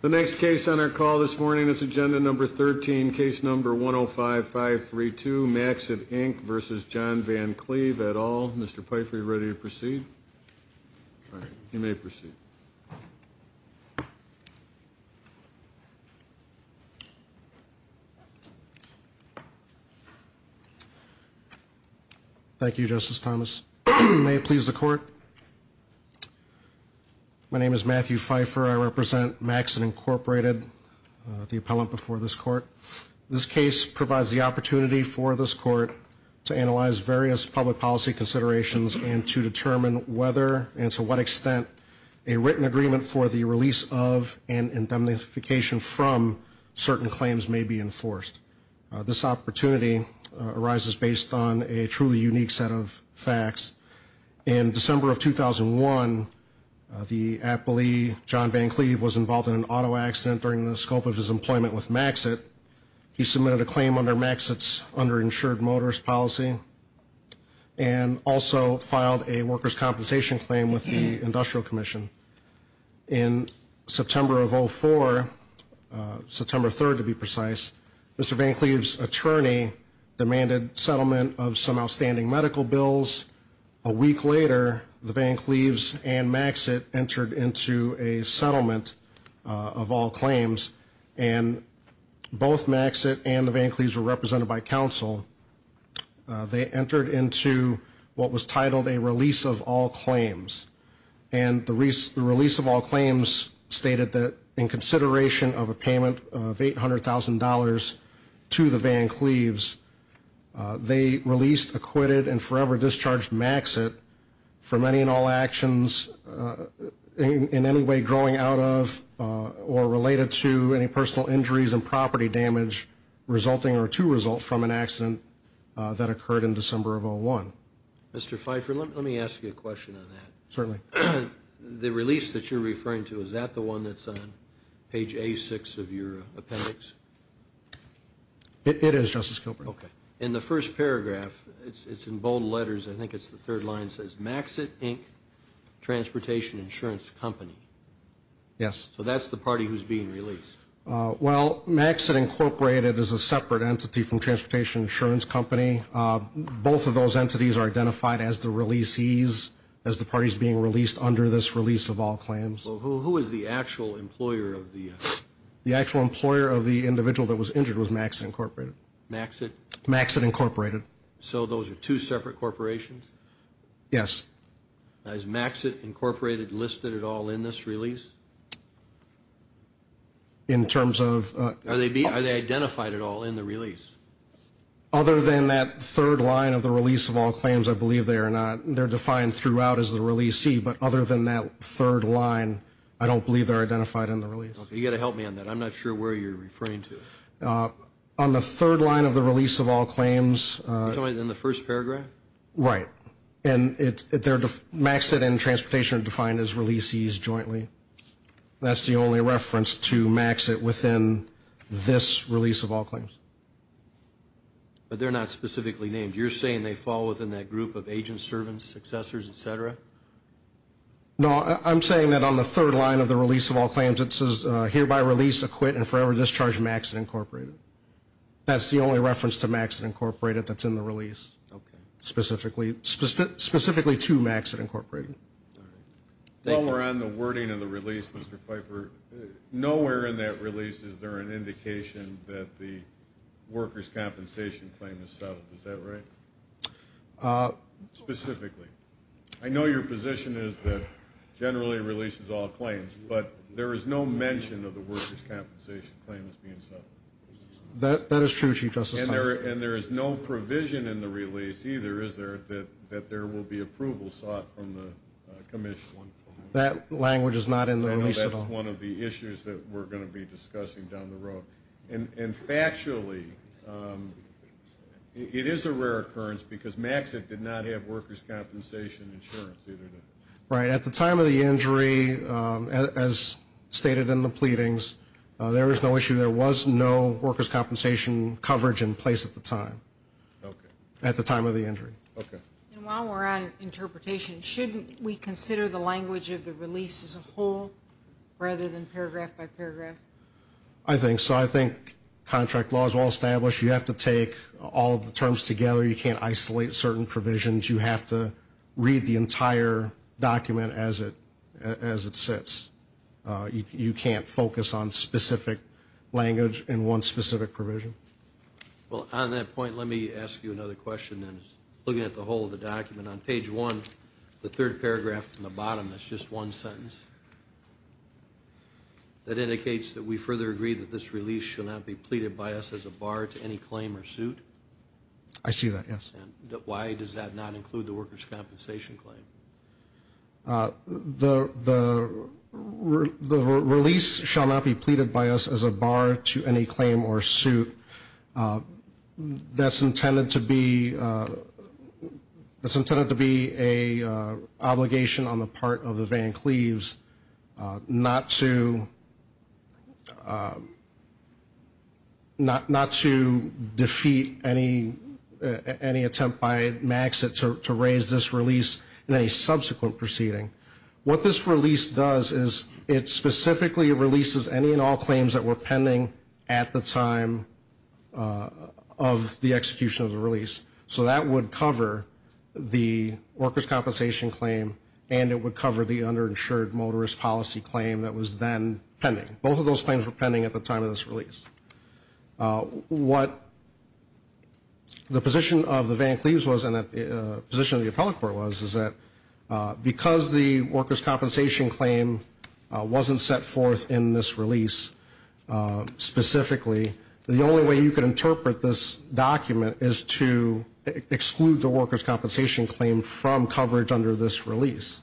The next case on our call this morning is Agenda Number 13, Case Number 105532, Maxit, Inc. v. John Van Cleve, et al. Mr. Pfeiffer, are you ready to proceed? You may proceed. Thank you, Justice Thomas. May it please the Court? My name is Matthew Pfeiffer. I represent Maxit, Inc., the appellant before this Court. This case provides the opportunity for this Court to analyze various public policy considerations and to determine whether and to what extent a written agreement for the release of and indemnification from certain claims may be enforced. This opportunity arises based on a truly unique set of facts. In December of 2001, the appellee, John Van Cleve, was involved in an auto accident during the scope of his employment with Maxit. He submitted a claim under Maxit's underinsured motors policy and also filed a workers' compensation claim with the Industrial Commission. In September of 2004, September 3rd to be precise, Mr. Van Cleve's attorney demanded settlement of some outstanding medical bills. A week later, the Van Cleves and Maxit entered into a settlement of all claims, and both Maxit and the Van Cleves were represented by counsel. They entered into what was titled a release of all claims. And the release of all claims stated that in consideration of a payment of $800,000 to the Van Cleves, they released, acquitted, and forever discharged Maxit for many and all actions in any way growing out of or related to any personal injuries and property damage resulting or to result from an accident that occurred in December of 2001. Mr. Pfeiffer, let me ask you a question on that. Certainly. The release that you're referring to, is that the one that's on page A6 of your appendix? It is, Justice Gilbert. Okay. In the first paragraph, it's in bold letters, I think it's the third line, it says, Maxit, Inc., Transportation Insurance Company. Yes. So that's the party who's being released? Well, Maxit, Incorporated is a separate entity from Transportation Insurance Company. Both of those entities are identified as the releasees, as the parties being released under this release of all claims. Who is the actual employer of the? The actual employer of the individual that was injured was Maxit, Incorporated. Maxit? Maxit, Incorporated. So those are two separate corporations? Yes. Is Maxit, Incorporated listed at all in this release? In terms of? Are they identified at all in the release? Other than that third line of the release of all claims, I believe they are not. They're defined throughout as the releasee, but other than that third line, I don't believe they're identified in the release. Okay. You've got to help me on that. I'm not sure where you're referring to. On the third line of the release of all claims. You're talking about in the first paragraph? Right. And Maxit and Transportation are defined as releasees jointly. That's the only reference to Maxit within this release of all claims. But they're not specifically named. You're saying they fall within that group of agents, servants, successors, et cetera? No, I'm saying that on the third line of the release of all claims, it says hereby release, acquit, and forever discharge Maxit, Incorporated. That's the only reference to Maxit, Incorporated that's in the release. Okay. Specifically to Maxit, Incorporated. All right. While we're on the wording of the release, Mr. Pfeiffer, nowhere in that release is there an indication that the workers' compensation claim is settled. Is that right? Specifically. I know your position is that generally releases all claims, but there is no mention of the workers' compensation claim as being settled. That is true, Chief Justice. And there is no provision in the release either, is there, that there will be approval sought from the commission? That language is not in the release at all. I know that's one of the issues that we're going to be discussing down the road. And factually, it is a rare occurrence because Maxit did not have workers' compensation insurance either. Right. At the time of the injury, as stated in the pleadings, there was no issue. There was no compensation coverage in place at the time. Okay. At the time of the injury. Okay. And while we're on interpretation, shouldn't we consider the language of the release as a whole rather than paragraph by paragraph? I think so. I think contract law is well established. You have to take all of the terms together. You can't isolate certain provisions. You have to read the entire document as it sits. You can't focus on specific language in one specific provision. Well, on that point, let me ask you another question. Looking at the whole of the document, on page one, the third paragraph from the bottom, that's just one sentence, that indicates that we further agree that this release should not be pleaded by us as a bar to any claim or suit. I see that, yes. Why does that not include the workers' compensation claim? The release shall not be pleaded by us as a bar to any claim or suit. That's intended to be an obligation on the part of the Van Cleves not to defeat any attempt by MAXIT to raise this release in any subsequent proceeding. What this release does is it specifically releases any and all claims that were pending at the time of the execution of the release. So that would cover the workers' compensation claim, and it would cover the underinsured motorist policy claim that was then pending. Both of those claims were pending at the time of this release. What the position of the Van Cleves was and the position of the appellate court was, is that because the workers' compensation claim wasn't set forth in this release specifically, the only way you could interpret this document is to exclude the workers' compensation claim from coverage under this release.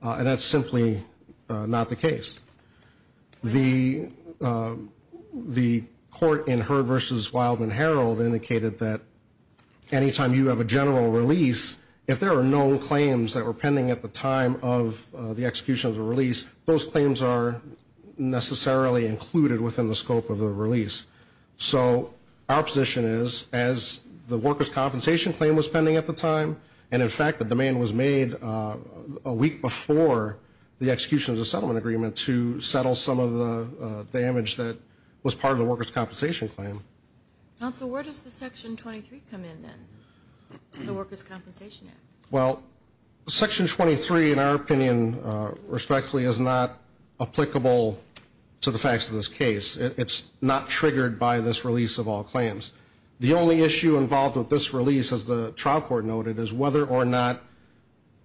And that's simply not the case. The court in Heard v. Wildman Herald indicated that anytime you have a general release, if there are known claims that were pending at the time of the execution of the release, those claims are necessarily included within the scope of the release. So our position is, as the workers' compensation claim was pending at the time, and, in fact, the demand was made a week before the execution of the settlement agreement to settle some of the damage that was part of the workers' compensation claim. Counsel, where does the Section 23 come in then, the Workers' Compensation Act? Well, Section 23, in our opinion, respectfully, is not applicable to the facts of this case. It's not triggered by this release of all claims. The only issue involved with this release, as the trial court noted, is whether or not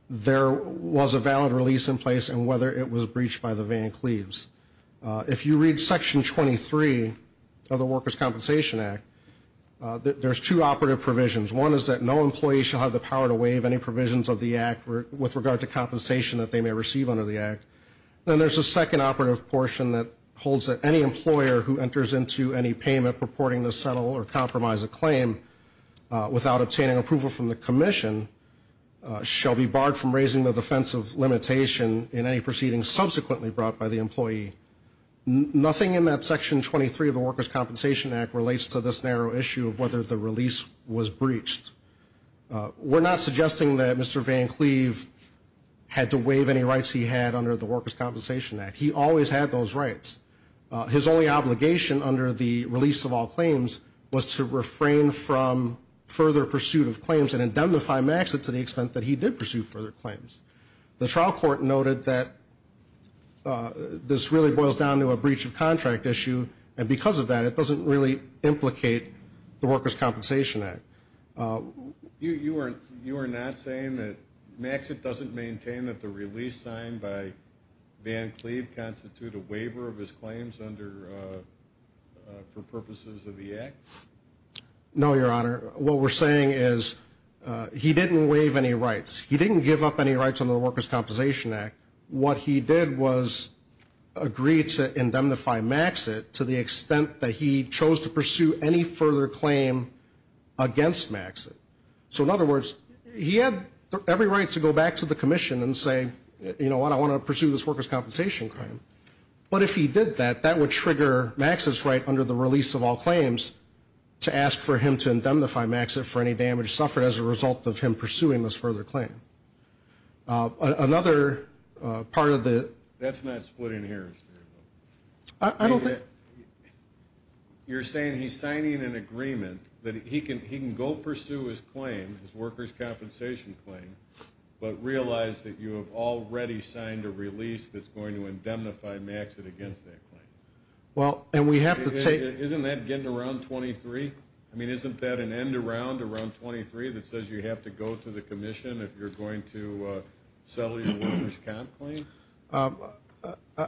there was a valid release in place and whether it was breached by the Van Cleves. If you read Section 23 of the Workers' Compensation Act, there's two operative provisions. One is that no employee shall have the power to waive any provisions of the act with regard to compensation that they may receive under the act. Then there's a second operative portion that holds that any employer who enters into any payment purporting to settle or compromise a claim without obtaining approval from the commission shall be barred from raising the defense of limitation in any proceedings subsequently brought by the employee. Nothing in that Section 23 of the Workers' Compensation Act relates to this narrow issue of whether the release was breached. We're not suggesting that Mr. Van Cleve had to waive any rights he had under the Workers' Compensation Act. He always had those rights. His only obligation under the release of all claims was to refrain from further pursuit of claims and indemnify Maxit to the extent that he did pursue further claims. The trial court noted that this really boils down to a breach of contract issue, and because of that it doesn't really implicate the Workers' Compensation Act. You are not saying that Maxit doesn't maintain that the release signed by Van Cleve may constitute a waiver of his claims for purposes of the act? No, Your Honor. What we're saying is he didn't waive any rights. He didn't give up any rights under the Workers' Compensation Act. What he did was agree to indemnify Maxit to the extent that he chose to pursue any further claim against Maxit. So in other words, he had every right to go back to the commission and say, you know what, I want to pursue this workers' compensation claim. But if he did that, that would trigger Maxit's right under the release of all claims to ask for him to indemnify Maxit for any damage suffered as a result of him pursuing this further claim. Another part of the – That's not splitting hairs. I don't think – You're saying he's signing an agreement that he can go pursue his claim, his workers' compensation claim, but realize that you have already signed a release that's going to indemnify Maxit against that claim. Well, and we have to take – Isn't that getting around 23? I mean, isn't that an end-around around 23 that says you have to go to the commission if you're going to settle your workers' comp claim?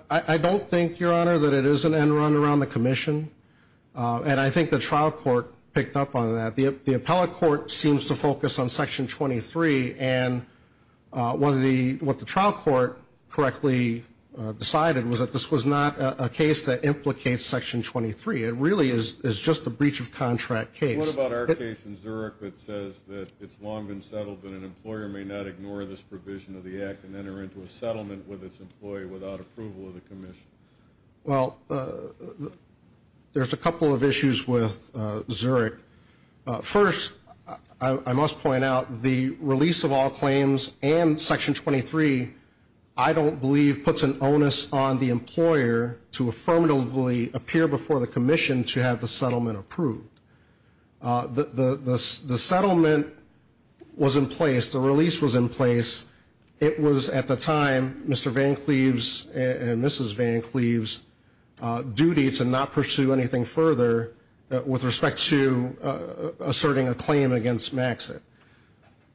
I don't think, Your Honor, that it is an end-around around the commission. And I think the trial court picked up on that. The appellate court seems to focus on Section 23, and what the trial court correctly decided was that this was not a case that implicates Section 23. It really is just a breach-of-contract case. What about our case in Zurich that says that it's long been settled that an employer may not ignore this provision of the act and enter into a settlement with its employee without approval of the commission? Well, there's a couple of issues with Zurich. First, I must point out the release of all claims and Section 23, I don't believe, puts an onus on the employer to affirmatively appear before the commission to have the settlement approved. The settlement was in place. The release was in place. It was, at the time, Mr. Van Cleave's and Mrs. Van Cleave's duty to not pursue anything further with respect to asserting a claim against Maxit.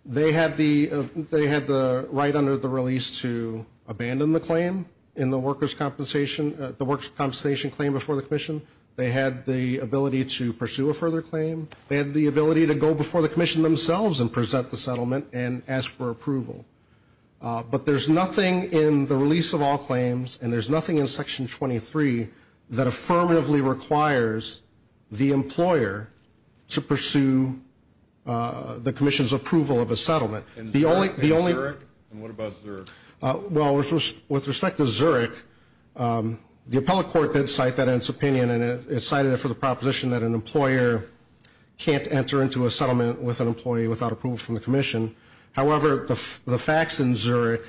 They had the right under the release to abandon the claim in the workers' compensation claim before the commission. They had the ability to pursue a further claim. They had the ability to go before the commission themselves and present the settlement and ask for approval. But there's nothing in the release of all claims, and there's nothing in Section 23, that affirmatively requires the employer to pursue the commission's approval of a settlement. And that against Zurich? And what about Zurich? Well, with respect to Zurich, the appellate court did cite that in its opinion, and it cited it for the proposition that an employer can't enter into a settlement with an employee without approval from the commission. However, the facts in Zurich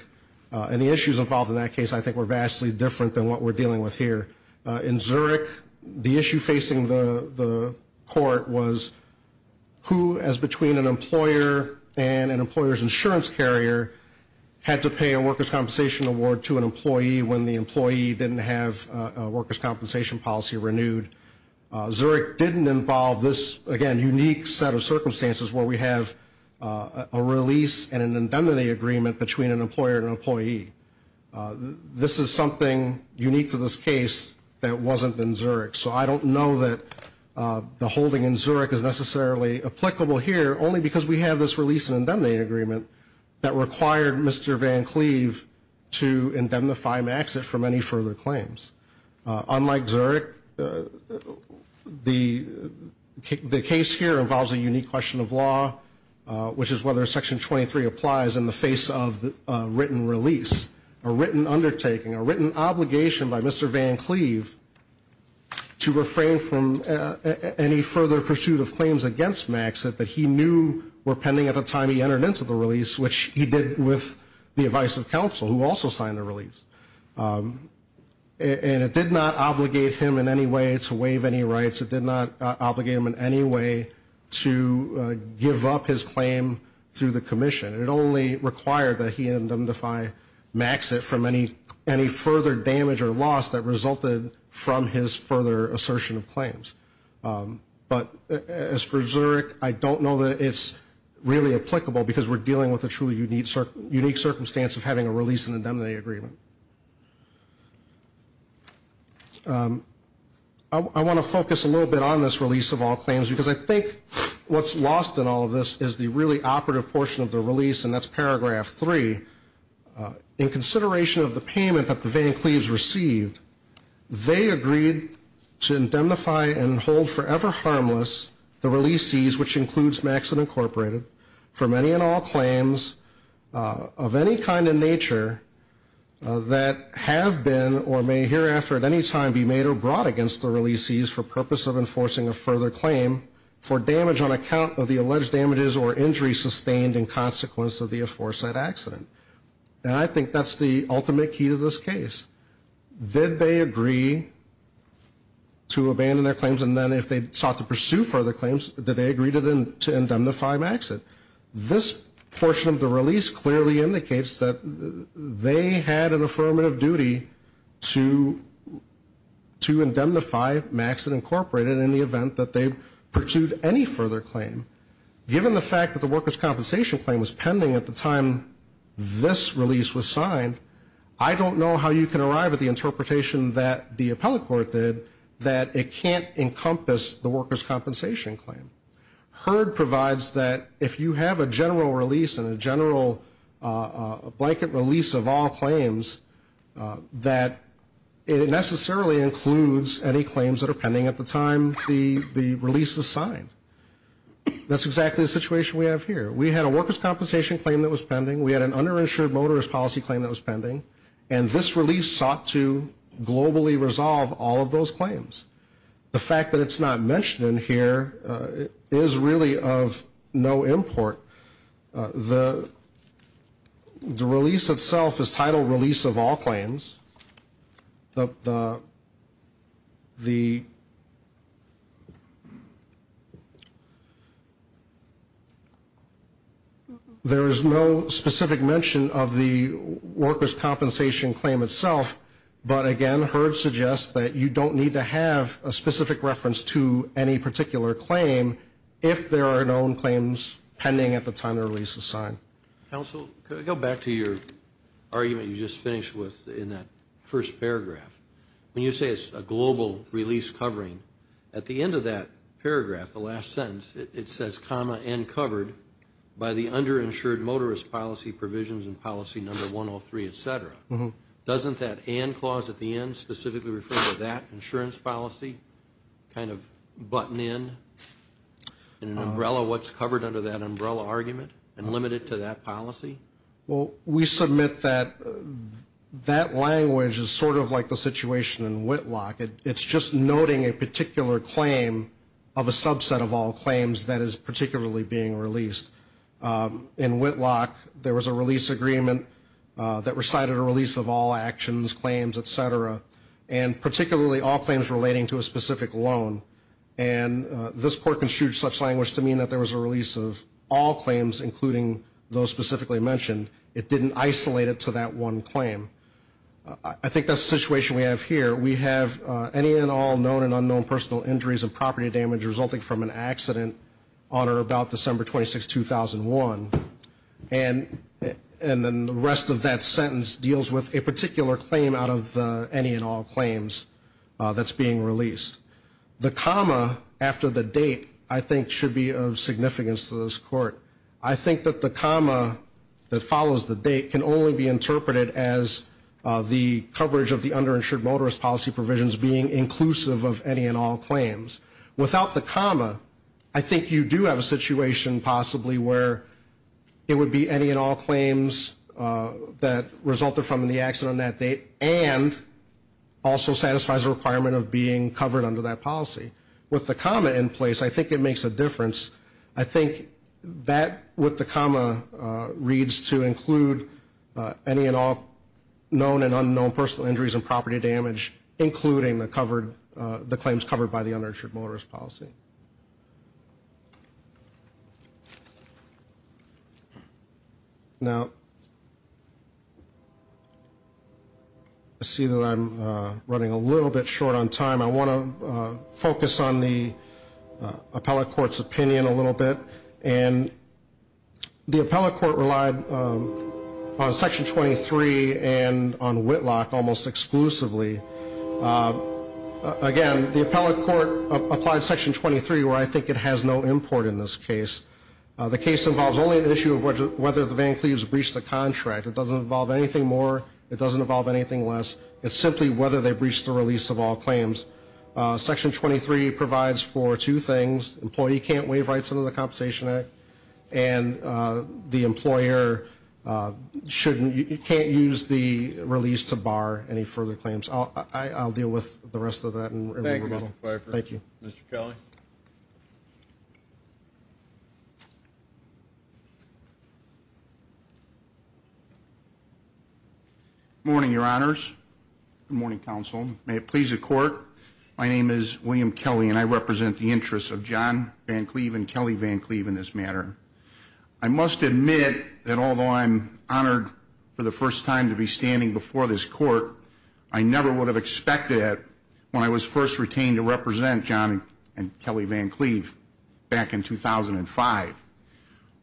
and the issues involved in that case, I think, were vastly different than what we're dealing with here. In Zurich, the issue facing the court was who, as between an employer and an employer's insurance carrier, didn't have a workers' compensation policy renewed. Zurich didn't involve this, again, unique set of circumstances where we have a release and an indemnity agreement between an employer and an employee. This is something unique to this case that wasn't in Zurich. So I don't know that the holding in Zurich is necessarily applicable here, only because we have this release and indemnity agreement that required Mr. Van Cleve to indemnify Maxit from any further claims. Unlike Zurich, the case here involves a unique question of law, which is whether Section 23 applies in the face of a written release, a written undertaking, a written obligation by Mr. Van Cleve to refrain from any further pursuit of claims against Maxit that he knew were pending at the time he entered into the release, which he did with the advice of counsel, who also signed the release. And it did not obligate him in any way to waive any rights. It did not obligate him in any way to give up his claim through the commission. It only required that he indemnify Maxit from any further damage or loss that resulted from his further assertion of claims. But as for Zurich, I don't know that it's really applicable, because we're dealing with a truly unique circumstance of having a release and indemnity agreement. I want to focus a little bit on this release of all claims, because I think what's lost in all of this is the really operative portion of the release, and that's Paragraph 3. In consideration of the payment that the Van Cleves received, they agreed to indemnify and hold forever harmless the releasees, which includes Maxit Incorporated, for many and all claims of any kind in nature that have been or may hereafter at any time be made or brought against the releasees for purpose of enforcing a further claim for damage on account of the alleged damages or injuries sustained in consequence of the aforesaid accident. And I think that's the ultimate key to this case. Did they agree to abandon their claims, and then if they sought to pursue further claims, did they agree to indemnify Maxit? This portion of the release clearly indicates that they had an affirmative duty to indemnify Maxit Incorporated in the event that they pursued any further claim. Given the fact that the workers' compensation claim was pending at the time this release was signed, I don't know how you can arrive at the interpretation that the appellate court did that it can't encompass the workers' compensation claim. HERD provides that if you have a general release and a general blanket release of all claims, that it necessarily includes any claims that are pending at the time the release is signed. That's exactly the situation we have here. We had a workers' compensation claim that was pending. We had an underinsured motorist policy claim that was pending. And this release sought to globally resolve all of those claims. The fact that it's not mentioned in here is really of no import. The release itself is titled Release of All Claims. There is no specific mention of the workers' compensation claim itself, but again HERD suggests that you don't need to have a specific reference to any particular claim if there are known claims pending at the time the release is signed. Counsel, could I go back to your argument you just finished with in that first paragraph? When you say it's a global release covering, at the end of that paragraph, the last sentence, it says, comma, and covered by the underinsured motorist policy provisions and policy number 103, et cetera. Doesn't that and clause at the end specifically refer to that insurance policy kind of button in? In an umbrella, what's covered under that umbrella argument and limited to that policy? Well, we submit that that language is sort of like the situation in Whitlock. It's just noting a particular claim of a subset of all claims that is particularly being released. In Whitlock, there was a release agreement that recited a release of all actions, claims, et cetera, and particularly all claims relating to a specific loan. And this court construed such language to mean that there was a release of all claims, including those specifically mentioned. It didn't isolate it to that one claim. I think that's the situation we have here. We have any and all known and unknown personal injuries and property damage resulting from an accident on or about December 26, 2001. And then the rest of that sentence deals with a particular claim out of the any and all claims that's being released. The comma after the date, I think, should be of significance to this court. I think that the comma that follows the date can only be interpreted as the coverage of the underinsured motorist policy provisions being inclusive of any and all claims. Without the comma, I think you do have a situation possibly where it would be any and all claims that resulted from the accident on that date and also satisfies a requirement of being covered under that policy. With the comma in place, I think it makes a difference. I think that with the comma reads to include any and all known and unknown personal injuries and property damage, including the claims covered by the underinsured motorist policy. Now, I see that I'm running a little bit short on time. I want to focus on the appellate court's opinion a little bit. And the appellate court relied on Section 23 and on Whitlock almost exclusively. Again, the appellate court applied Section 23 where I think it has no import in this case. The case involves only the issue of whether the Van Cleves breached the contract. It doesn't involve anything more. It doesn't involve anything less. It's simply whether they breached the release of all claims. Section 23 provides for two things. Employee can't waive rights under the Compensation Act. And the employer can't use the release to bar any further claims. I'll deal with the rest of that. Thank you, Mr. Pfeiffer. Thank you. Mr. Kelly. Good morning, Your Honors. Good morning, Counsel. May it please the Court, my name is William Kelly, and I represent the interests of John Van Cleve and Kelly Van Cleve in this matter. I must admit that although I'm honored for the first time to be standing before this Court, I never would have expected it when I was first retained to represent John and Kelly Van Cleve back in 2005.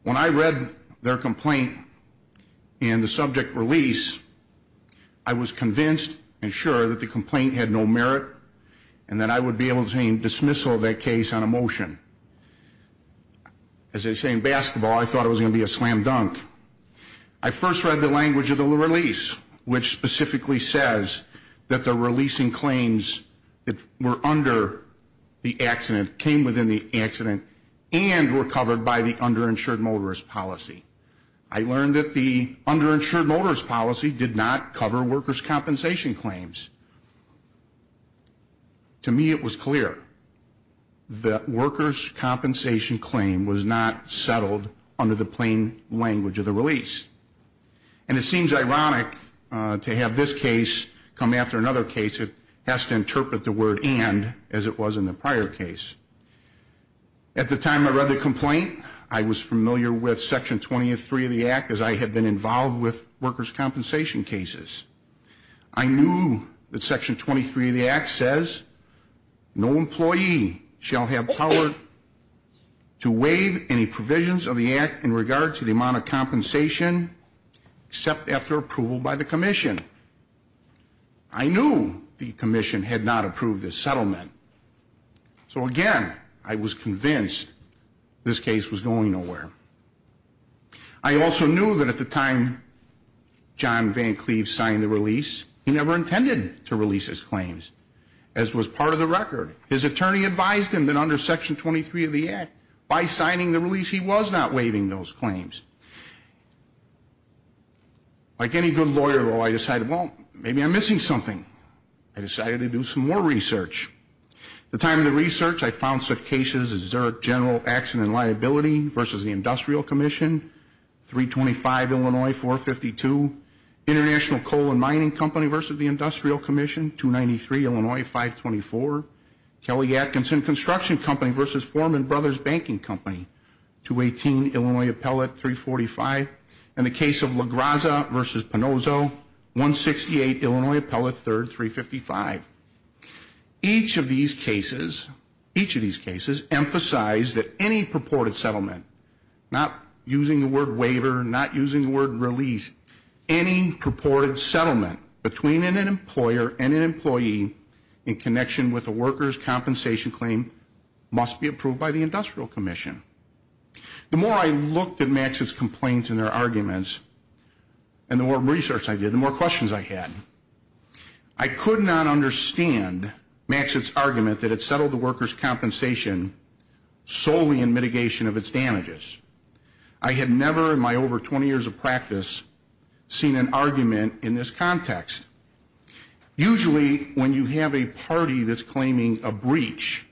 When I read their complaint in the subject release, I was convinced and sure that the complaint had no merit and that I would be able to dismissal that case on a motion. As they say in basketball, I thought it was going to be a slam dunk. I first read the language of the release, which specifically says that the releasing claims that were under the accident came within the accident and were covered by the underinsured motorist policy. I learned that the underinsured motorist policy did not cover workers' compensation claims. To me it was clear that workers' compensation claim was not settled under the plain language of the release. And it seems ironic to have this case come after another case. It has to interpret the word and as it was in the prior case. At the time I read the complaint, I was familiar with Section 23 of the Act as I had been involved with workers' compensation cases. I knew that Section 23 of the Act says, no employee shall have power to waive any provisions of the Act in regard to the amount of compensation except after approval by the Commission. I knew the Commission had not approved this settlement. So again, I was convinced this case was going nowhere. I also knew that at the time John Van Cleve signed the release, he never intended to release his claims, as was part of the record. His attorney advised him that under Section 23 of the Act, by signing the release he was not waiving those claims. Like any good lawyer, though, I decided, well, maybe I'm missing something. I decided to do some more research. At the time of the research, I found such cases as Zurich General Accident and Liability v. The Industrial Commission, 325 Illinois 452, International Coal and Mining Company v. The Industrial Commission, 293 Illinois 524, Kelly Atkinson Construction Company v. Foreman Brothers Banking Company, 218 Illinois Appellate 345, and the case of La Graza v. Pinozzo, 168 Illinois Appellate 3rd 355. Each of these cases emphasized that any purported settlement, not using the word waiver, not using the word release, any purported settlement between an employer and an employee in connection with a worker's compensation claim must be approved by the Industrial Commission. The more I looked at Max's complaints and their arguments, and the more research I did, the more questions I had. I could not understand Max's argument that it settled the worker's compensation solely in mitigation of its damages. I had never in my over 20 years of practice seen an argument in this context. Usually when you have a party that's claiming a breach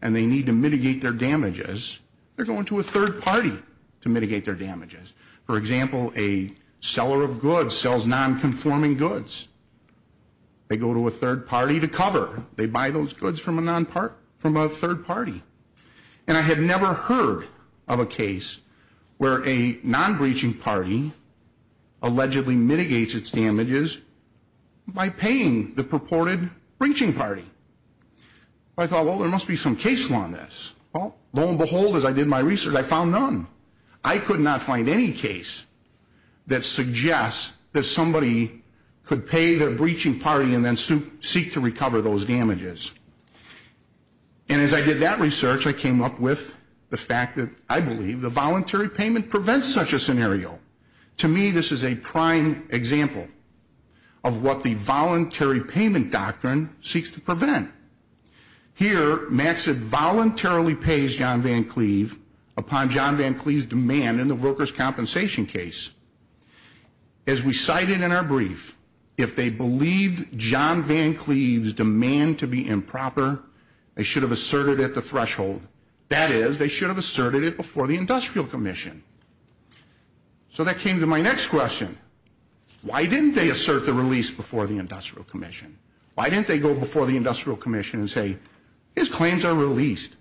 and they need to mitigate their damages, for example, a seller of goods sells non-conforming goods. They go to a third party to cover. They buy those goods from a third party. And I had never heard of a case where a non-breaching party allegedly mitigates its damages by paying the purported breaching party. I thought, well, there must be some case law in this. Well, lo and behold, as I did my research, I found none. I could not find any case that suggests that somebody could pay their breaching party and then seek to recover those damages. And as I did that research, I came up with the fact that I believe the voluntary payment prevents such a scenario. To me, this is a prime example of what the voluntary payment doctrine seeks to prevent. Here, Maxitt voluntarily pays John Van Cleave upon John Van Cleave's demand in the workers' compensation case. As we cited in our brief, if they believed John Van Cleave's demand to be improper, they should have asserted it at the threshold. That is, they should have asserted it before the Industrial Commission. So that came to my next question. Why didn't they assert the release before the Industrial Commission? Why didn't they go before the Industrial Commission and say, his claims are released?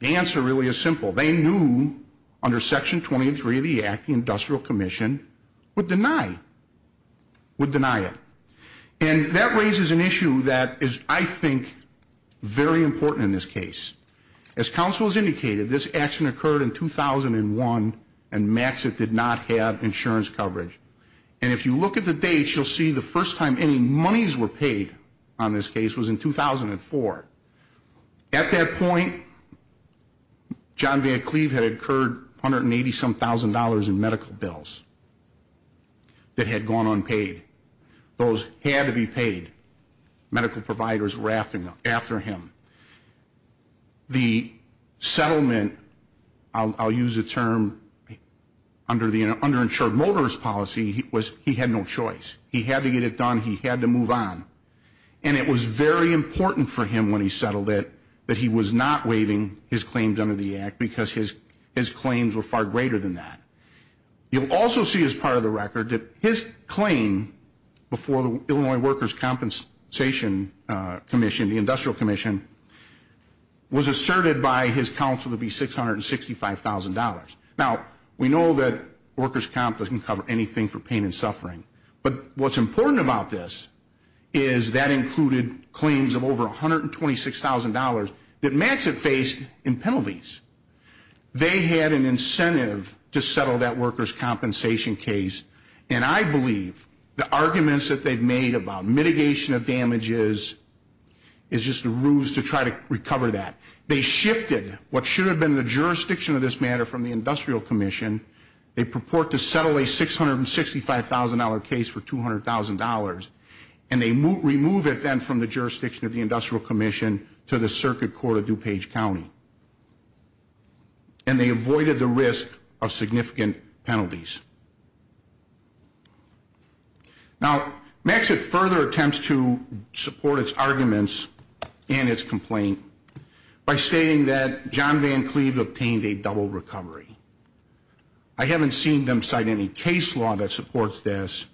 The answer really is simple. They knew under Section 23 of the Act, the Industrial Commission would deny it. And that raises an issue that is, I think, very important in this case. As counsel has indicated, this action occurred in 2001, and Maxitt did not have insurance coverage. And if you look at the dates, you'll see the first time any monies were paid on this case was in 2004. At that point, John Van Cleave had incurred $180-some-thousand in medical bills that had gone unpaid. Those had to be paid. Medical providers were after him. The settlement, I'll use a term, under the underinsured motorist policy, he had no choice. He had to get it done. He had to move on. And it was very important for him when he settled it that he was not waiving his claims under the Act because his claims were far greater than that. You'll also see as part of the record that his claim before the Illinois Workers' Compensation Commission, the Industrial Commission, was asserted by his counsel to be $665,000. Now, we know that workers' comp doesn't cover anything for pain and suffering, but what's important about this is that included claims of over $126,000 that Maxitt faced in penalties. They had an incentive to settle that workers' compensation case, And I believe the arguments that they've made about mitigation of damages is just a ruse to try to recover that. They shifted what should have been the jurisdiction of this matter from the Industrial Commission. They purport to settle a $665,000 case for $200,000, and they remove it then from the jurisdiction of the Industrial Commission to the Circuit Court of DuPage County. And they avoided the risk of significant penalties. Now, Maxitt further attempts to support its arguments and its complaint by saying that John Van Cleave obtained a double recovery. I haven't seen them cite any case law that supports this,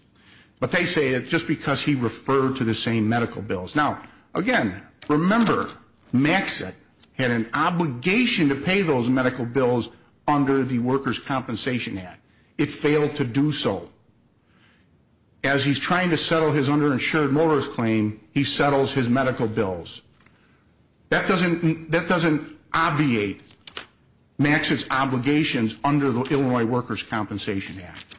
but they say it just because he referred to the same medical bills. Now, again, remember Maxitt had an obligation to pay those medical bills under the Workers' Compensation Act. It failed to do so. As he's trying to settle his underinsured motorist claim, he settles his medical bills. That doesn't obviate Maxitt's obligations under the Illinois Workers' Compensation Act.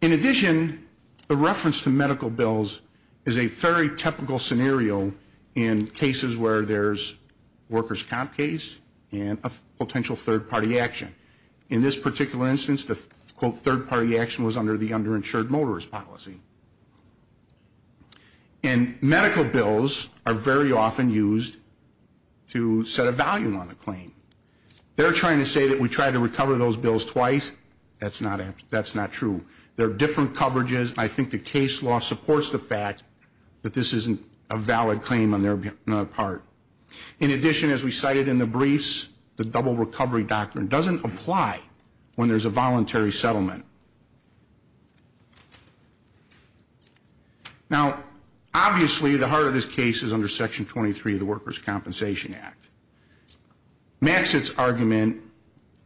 In addition, the reference to medical bills is a very typical scenario in cases where there's workers' comp case and a potential third-party action. In this particular instance, the, quote, third-party action was under the underinsured motorist policy. And medical bills are very often used to set a value on a claim. They're trying to say that we tried to recover those bills twice. That's not true. There are different coverages. I think the case law supports the fact that this isn't a valid claim on their part. In addition, as we cited in the briefs, the double recovery doctrine doesn't apply when there's a voluntary settlement. Now, obviously, the heart of this case is under Section 23 of the Workers' Compensation Act. Maxitt's argument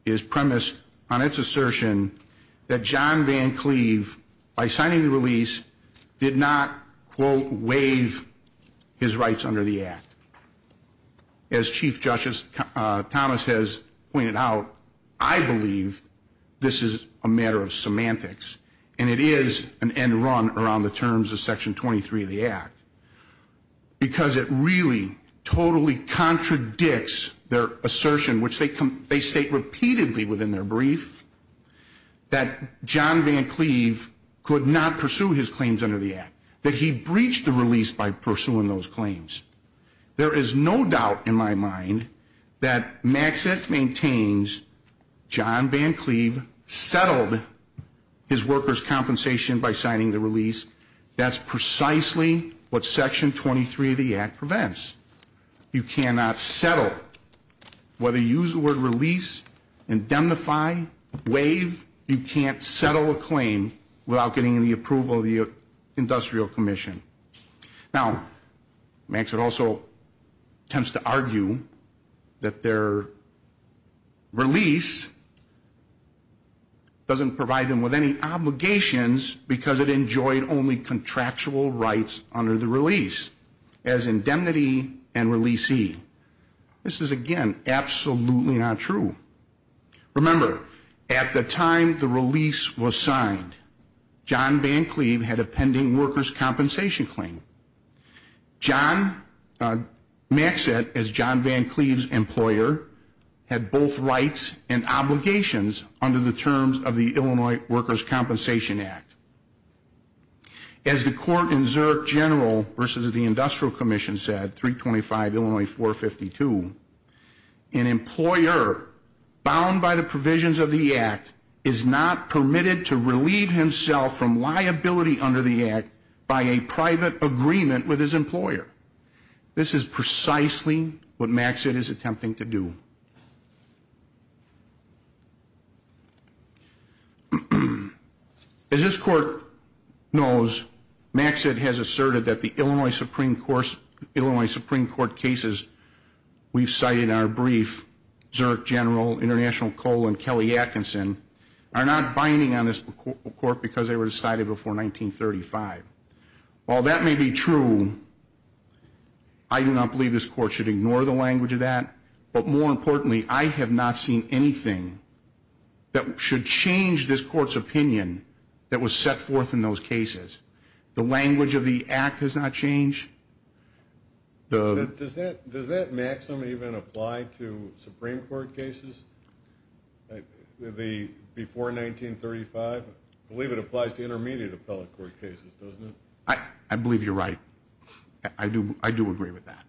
is premised on its assertion that John Van Cleve, by signing the release, did not, quote, waive his rights under the act. As Chief Justice Thomas has pointed out, I believe this is a matter of semantics, and it is an end run around the terms of Section 23 of the act because it really totally contradicts their assertion, which they state repeatedly within their brief, that John Van Cleve could not pursue his claims under the act, that he breached the release by pursuing those claims. There is no doubt in my mind that Maxitt maintains John Van Cleve settled his workers' compensation by signing the release. That's precisely what Section 23 of the act prevents. You cannot settle. You can't settle a claim without getting the approval of the Industrial Commission. Now, Maxitt also tends to argue that their release doesn't provide them with any obligations because it enjoyed only contractual rights under the release as indemnity and releasee. This is, again, absolutely not true. Remember, at the time the release was signed, John Van Cleve had a pending workers' compensation claim. Maxitt, as John Van Cleve's employer, had both rights and obligations under the terms of the Illinois Workers' Compensation Act. As the court in Zurich General versus the Industrial Commission said, 325 Illinois 452, an employer bound by the provisions of the act is not permitted to relieve himself from liability under the act by a private agreement with his employer. This is precisely what Maxitt is attempting to do. As this court knows, Maxitt has asserted that the Illinois Supreme Court cases we've cited in our brief, Zurich General, International Coal, and Kelly Atkinson, are not binding on this court because they were decided before 1935. While that may be true, I do not believe this court should ignore the language of that, but more importantly, I have not seen anything that should change this court's opinion that was set forth in those cases. The language of the act has not changed. Does that maxim even apply to Supreme Court cases before 1935? I believe it applies to intermediate appellate court cases, doesn't it? I believe you're right. I do agree with that.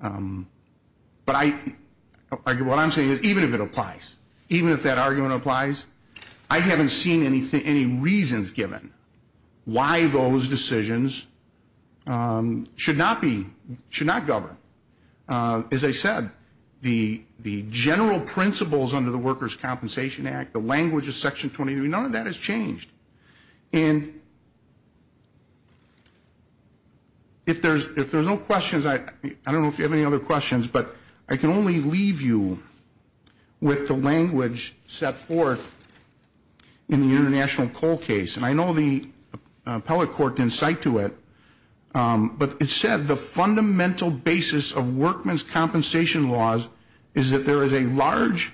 But what I'm saying is even if it applies, even if that argument applies, I haven't seen any reasons given why those decisions should not govern. As I said, the general principles under the Workers' Compensation Act, the language of Section 23, none of that has changed. And if there's no questions, I don't know if you have any other questions, but I can only leave you with the language set forth in the International Coal case. And I know the appellate court didn't cite to it, but it said, the fundamental basis of workmen's compensation laws is that there is a large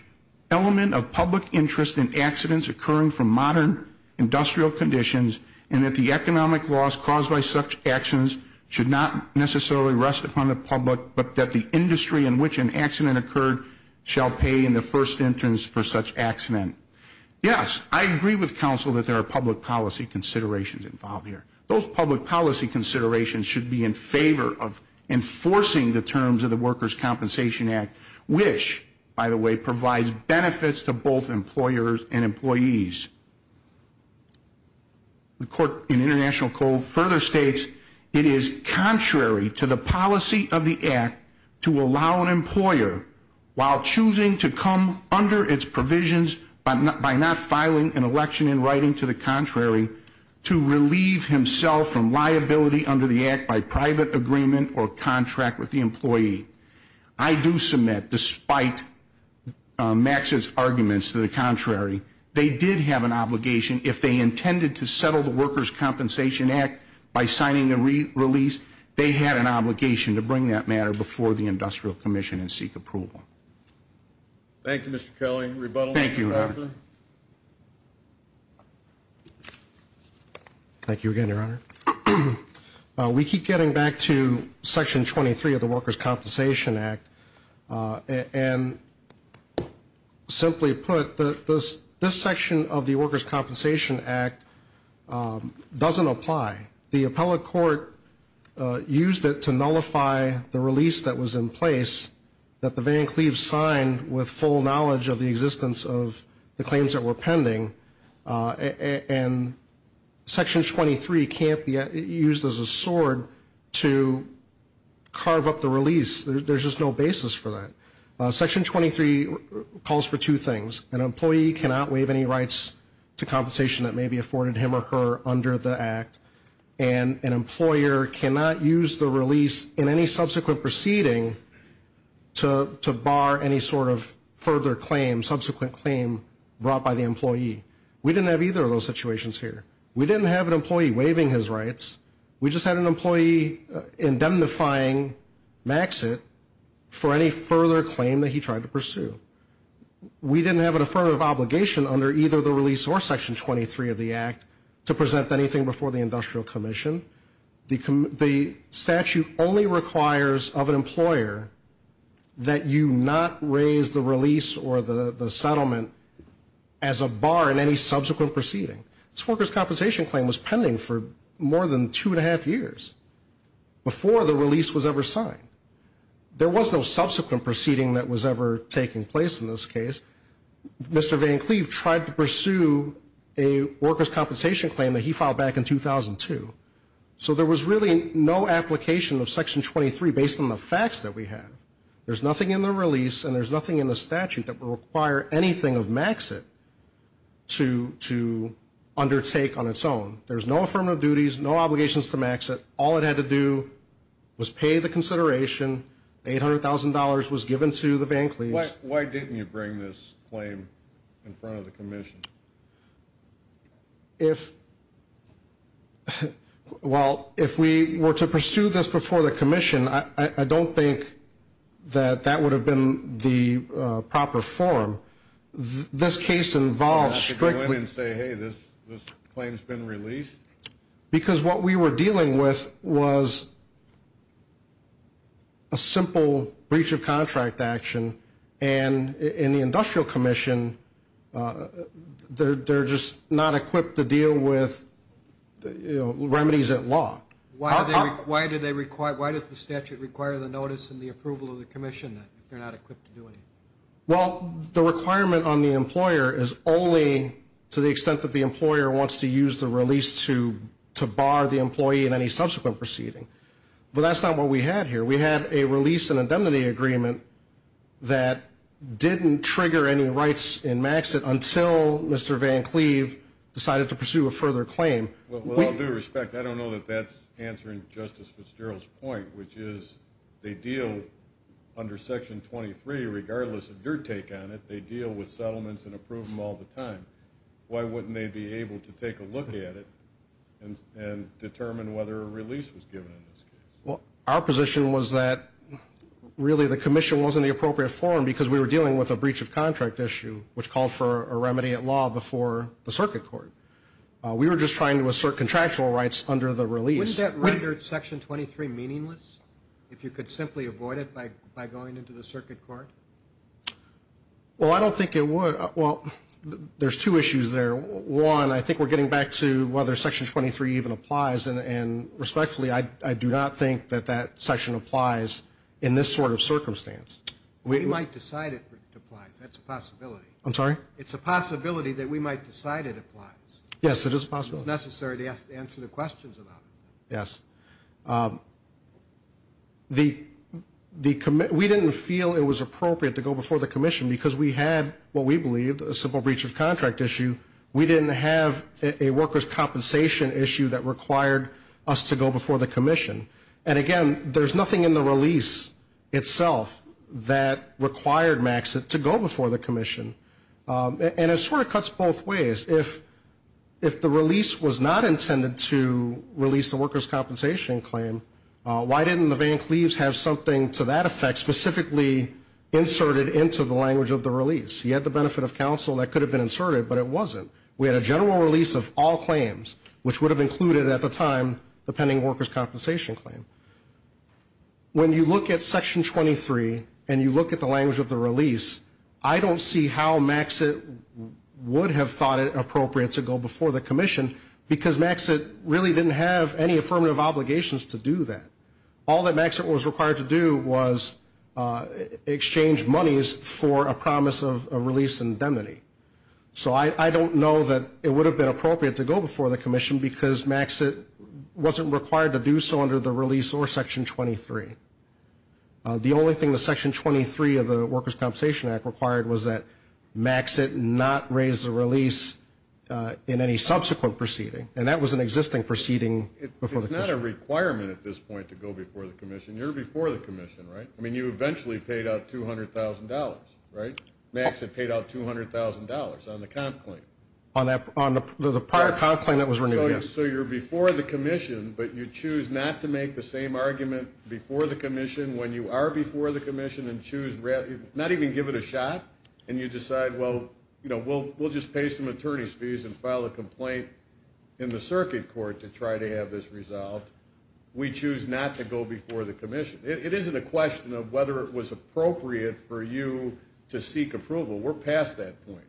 element of public interest in accidents occurring from modern industrial conditions and that the economic loss caused by such actions should not necessarily rest upon the public, but that the industry in which an accident occurred shall pay in the first instance for such accident. Yes, I agree with counsel that there are public policy considerations involved here. Those public policy considerations should be in favor of enforcing the terms of the Workers' Compensation Act, which, by the way, provides benefits to both employers and employees. The court in International Coal further states, it is contrary to the policy of the Act to allow an employer, while choosing to come under its provisions by not filing an election in writing to the contrary, to relieve himself from liability under the Act by private agreement or contract with the employee. I do submit, despite Max's arguments to the contrary, they did have an obligation. If they intended to settle the Workers' Compensation Act by signing a release, they had an obligation to bring that matter before the Industrial Commission and seek approval. Thank you, Mr. Kelly. Rebuttal, Mr. Stafford. Thank you, Your Honor. Thank you again, Your Honor. We keep getting back to Section 23 of the Workers' Compensation Act. And simply put, this section of the Workers' Compensation Act doesn't apply. The appellate court used it to nullify the release that was in place that the Van Cleaves signed with full knowledge of the existence of the claims that were pending. And Section 23 can't be used as a sword to carve up the release. There's just no basis for that. Section 23 calls for two things. An employee cannot waive any rights to compensation that may be afforded him or her under the Act. And an employer cannot use the release in any subsequent proceeding to bar any sort of further claim, brought by the employee. We didn't have either of those situations here. We didn't have an employee waiving his rights. We just had an employee indemnifying Maxit for any further claim that he tried to pursue. We didn't have an affirmative obligation under either the release or Section 23 of the Act to present anything before the Industrial Commission. The statute only requires of an employer that you not raise the release or the settlement as a bar in any subsequent proceeding. This workers' compensation claim was pending for more than two and a half years before the release was ever signed. There was no subsequent proceeding that was ever taking place in this case. Mr. Van Cleave tried to pursue a workers' compensation claim that he filed back in 2002. So there was really no application of Section 23 based on the facts that we have. There's nothing in the release and there's nothing in the statute that would require anything of Maxit to undertake on its own. There's no affirmative duties, no obligations to Maxit. All it had to do was pay the consideration. $800,000 was given to the Van Cleaves. Why didn't you bring this claim in front of the Commission? If, well, if we were to pursue this before the Commission, I don't think that that would have been the proper form. This case involves strictly. You have to go in and say, hey, this claim's been released? Because what we were dealing with was a simple breach of contract action, and in the Industrial Commission they're just not equipped to deal with remedies at law. Why does the statute require the notice and the approval of the Commission if they're not equipped to do anything? Well, the requirement on the employer is only to the extent that the employer wants to use the release to bar the employee in any subsequent proceeding. But that's not what we had here. We had a release and indemnity agreement that didn't trigger any rights in Maxit until Mr. Van Cleave decided to pursue a further claim. With all due respect, I don't know that that's answering Justice Fitzgerald's point, which is they deal under Section 23, regardless of your take on it, they deal with settlements and approve them all the time. Why wouldn't they be able to take a look at it and determine whether a release was given in this case? Well, our position was that really the Commission wasn't the appropriate form because we were dealing with a breach of contract issue, which called for a remedy at law before the circuit court. We were just trying to assert contractual rights under the release. Wouldn't that render Section 23 meaningless if you could simply avoid it by going into the circuit court? Well, I don't think it would. Well, there's two issues there. One, I think we're getting back to whether Section 23 even applies, and respectfully, I do not think that that section applies in this sort of circumstance. We might decide it applies. That's a possibility. I'm sorry? It's a possibility that we might decide it applies. Yes, it is a possibility. It's necessary to answer the questions about it. Yes. We didn't feel it was appropriate to go before the Commission because we had what we believed a simple breach of contract issue. We didn't have a workers' compensation issue that required us to go before the Commission. And again, there's nothing in the release itself that required MAXIT to go before the Commission. And it sort of cuts both ways. If the release was not intended to release the workers' compensation claim, why didn't the bank leaves have something to that effect specifically inserted into the language of the release? You had the benefit of counsel. That could have been inserted, but it wasn't. We had a general release of all claims, which would have included at the time the pending workers' compensation claim. When you look at Section 23 and you look at the language of the release, I don't see how MAXIT would have thought it appropriate to go before the Commission because MAXIT really didn't have any affirmative obligations to do that. All that MAXIT was required to do was exchange monies for a promise of a release indemnity. So I don't know that it would have been appropriate to go before the Commission because MAXIT wasn't required to do so under the release or Section 23. The only thing that Section 23 of the Workers' Compensation Act required was that MAXIT not raise the release in any subsequent proceeding, and that was an existing proceeding before the Commission. It's not a requirement at this point to go before the Commission. You're before the Commission, right? I mean, you eventually paid out $200,000, right? MAXIT paid out $200,000 on the comp claim. On the prior comp claim that was renewed, yes. So you're before the Commission, but you choose not to make the same argument before the Commission when you are before the Commission and choose not even give it a shot, and you decide, well, we'll just pay some attorney's fees and file a complaint in the circuit court to try to have this resolved. We choose not to go before the Commission. It isn't a question of whether it was appropriate for you to seek approval. We're past that point.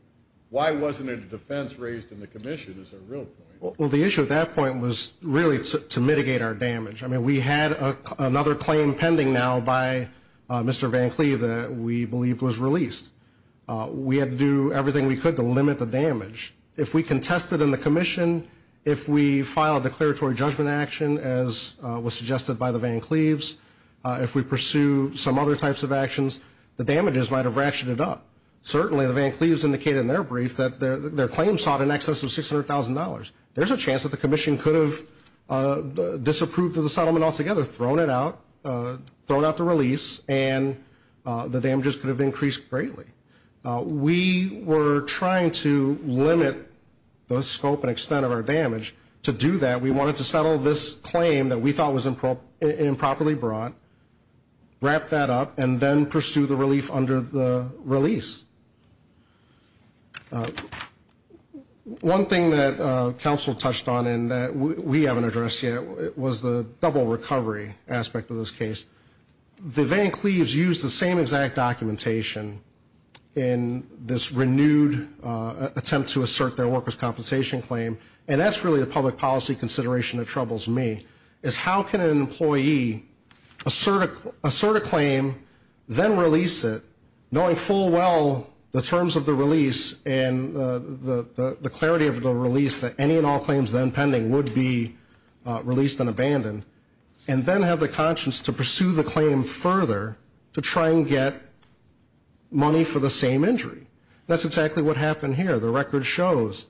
Why wasn't it a defense raised in the Commission is a real point. Well, the issue at that point was really to mitigate our damage. I mean, we had another claim pending now by Mr. Van Cleve that we believed was released. We had to do everything we could to limit the damage. If we contested in the Commission, if we filed a declaratory judgment action, as was suggested by the Van Cleves, if we pursued some other types of actions, the damages might have ratcheted up. Certainly the Van Cleves indicated in their brief that their claim sought in excess of $600,000. There's a chance that the Commission could have disapproved of the settlement altogether, thrown it out, thrown out the release, and the damages could have increased greatly. We were trying to limit the scope and extent of our damage. To do that, we wanted to settle this claim that we thought was improperly brought, wrap that up, and then pursue the relief under the release. One thing that counsel touched on and that we haven't addressed yet was the double recovery aspect of this case. The Van Cleves used the same exact documentation in this renewed attempt to assert their workers' compensation claim, and that's really a public policy consideration that troubles me, is how can an employee assert a claim, then release it, knowing full well the terms of the release and the clarity of the release that any and all claims then pending would be released and abandoned, and then have the conscience to pursue the claim further to try and get money for the same injury? That's exactly what happened here. The record shows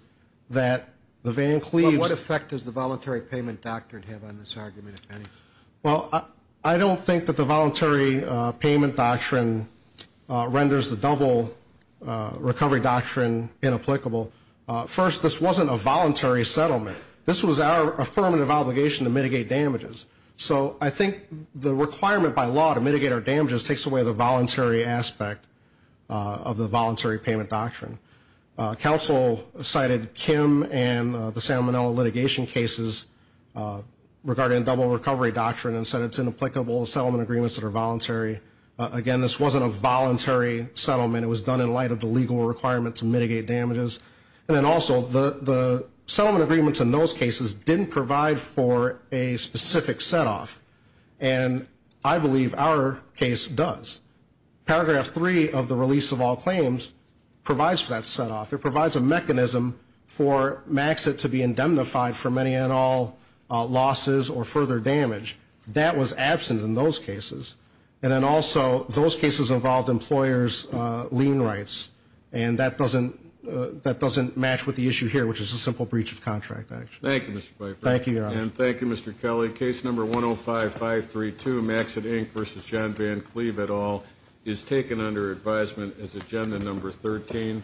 that the Van Cleves… Well, I don't think that the voluntary payment doctrine renders the double recovery doctrine inapplicable. First, this wasn't a voluntary settlement. This was our affirmative obligation to mitigate damages. So I think the requirement by law to mitigate our damages takes away the voluntary aspect of the voluntary payment doctrine. Counsel cited Kim and the Salmonella litigation cases regarding double recovery doctrine and said it's inapplicable to settlement agreements that are voluntary. Again, this wasn't a voluntary settlement. It was done in light of the legal requirement to mitigate damages. And then also, the settlement agreements in those cases didn't provide for a specific set-off, and I believe our case does. Paragraph 3 of the release of all claims provides for that set-off. It provides a mechanism for Maxit to be indemnified for many and all losses or further damage. That was absent in those cases. And then also, those cases involved employers' lien rights, and that doesn't match with the issue here, which is a simple breach of contract, actually. Thank you, Mr. Pfeiffer. Thank you, Your Honor. And thank you, Mr. Kelly. Case number 105532, Maxit Inc. v. John Van Cleve et al., is taken under advisement as agenda number 13.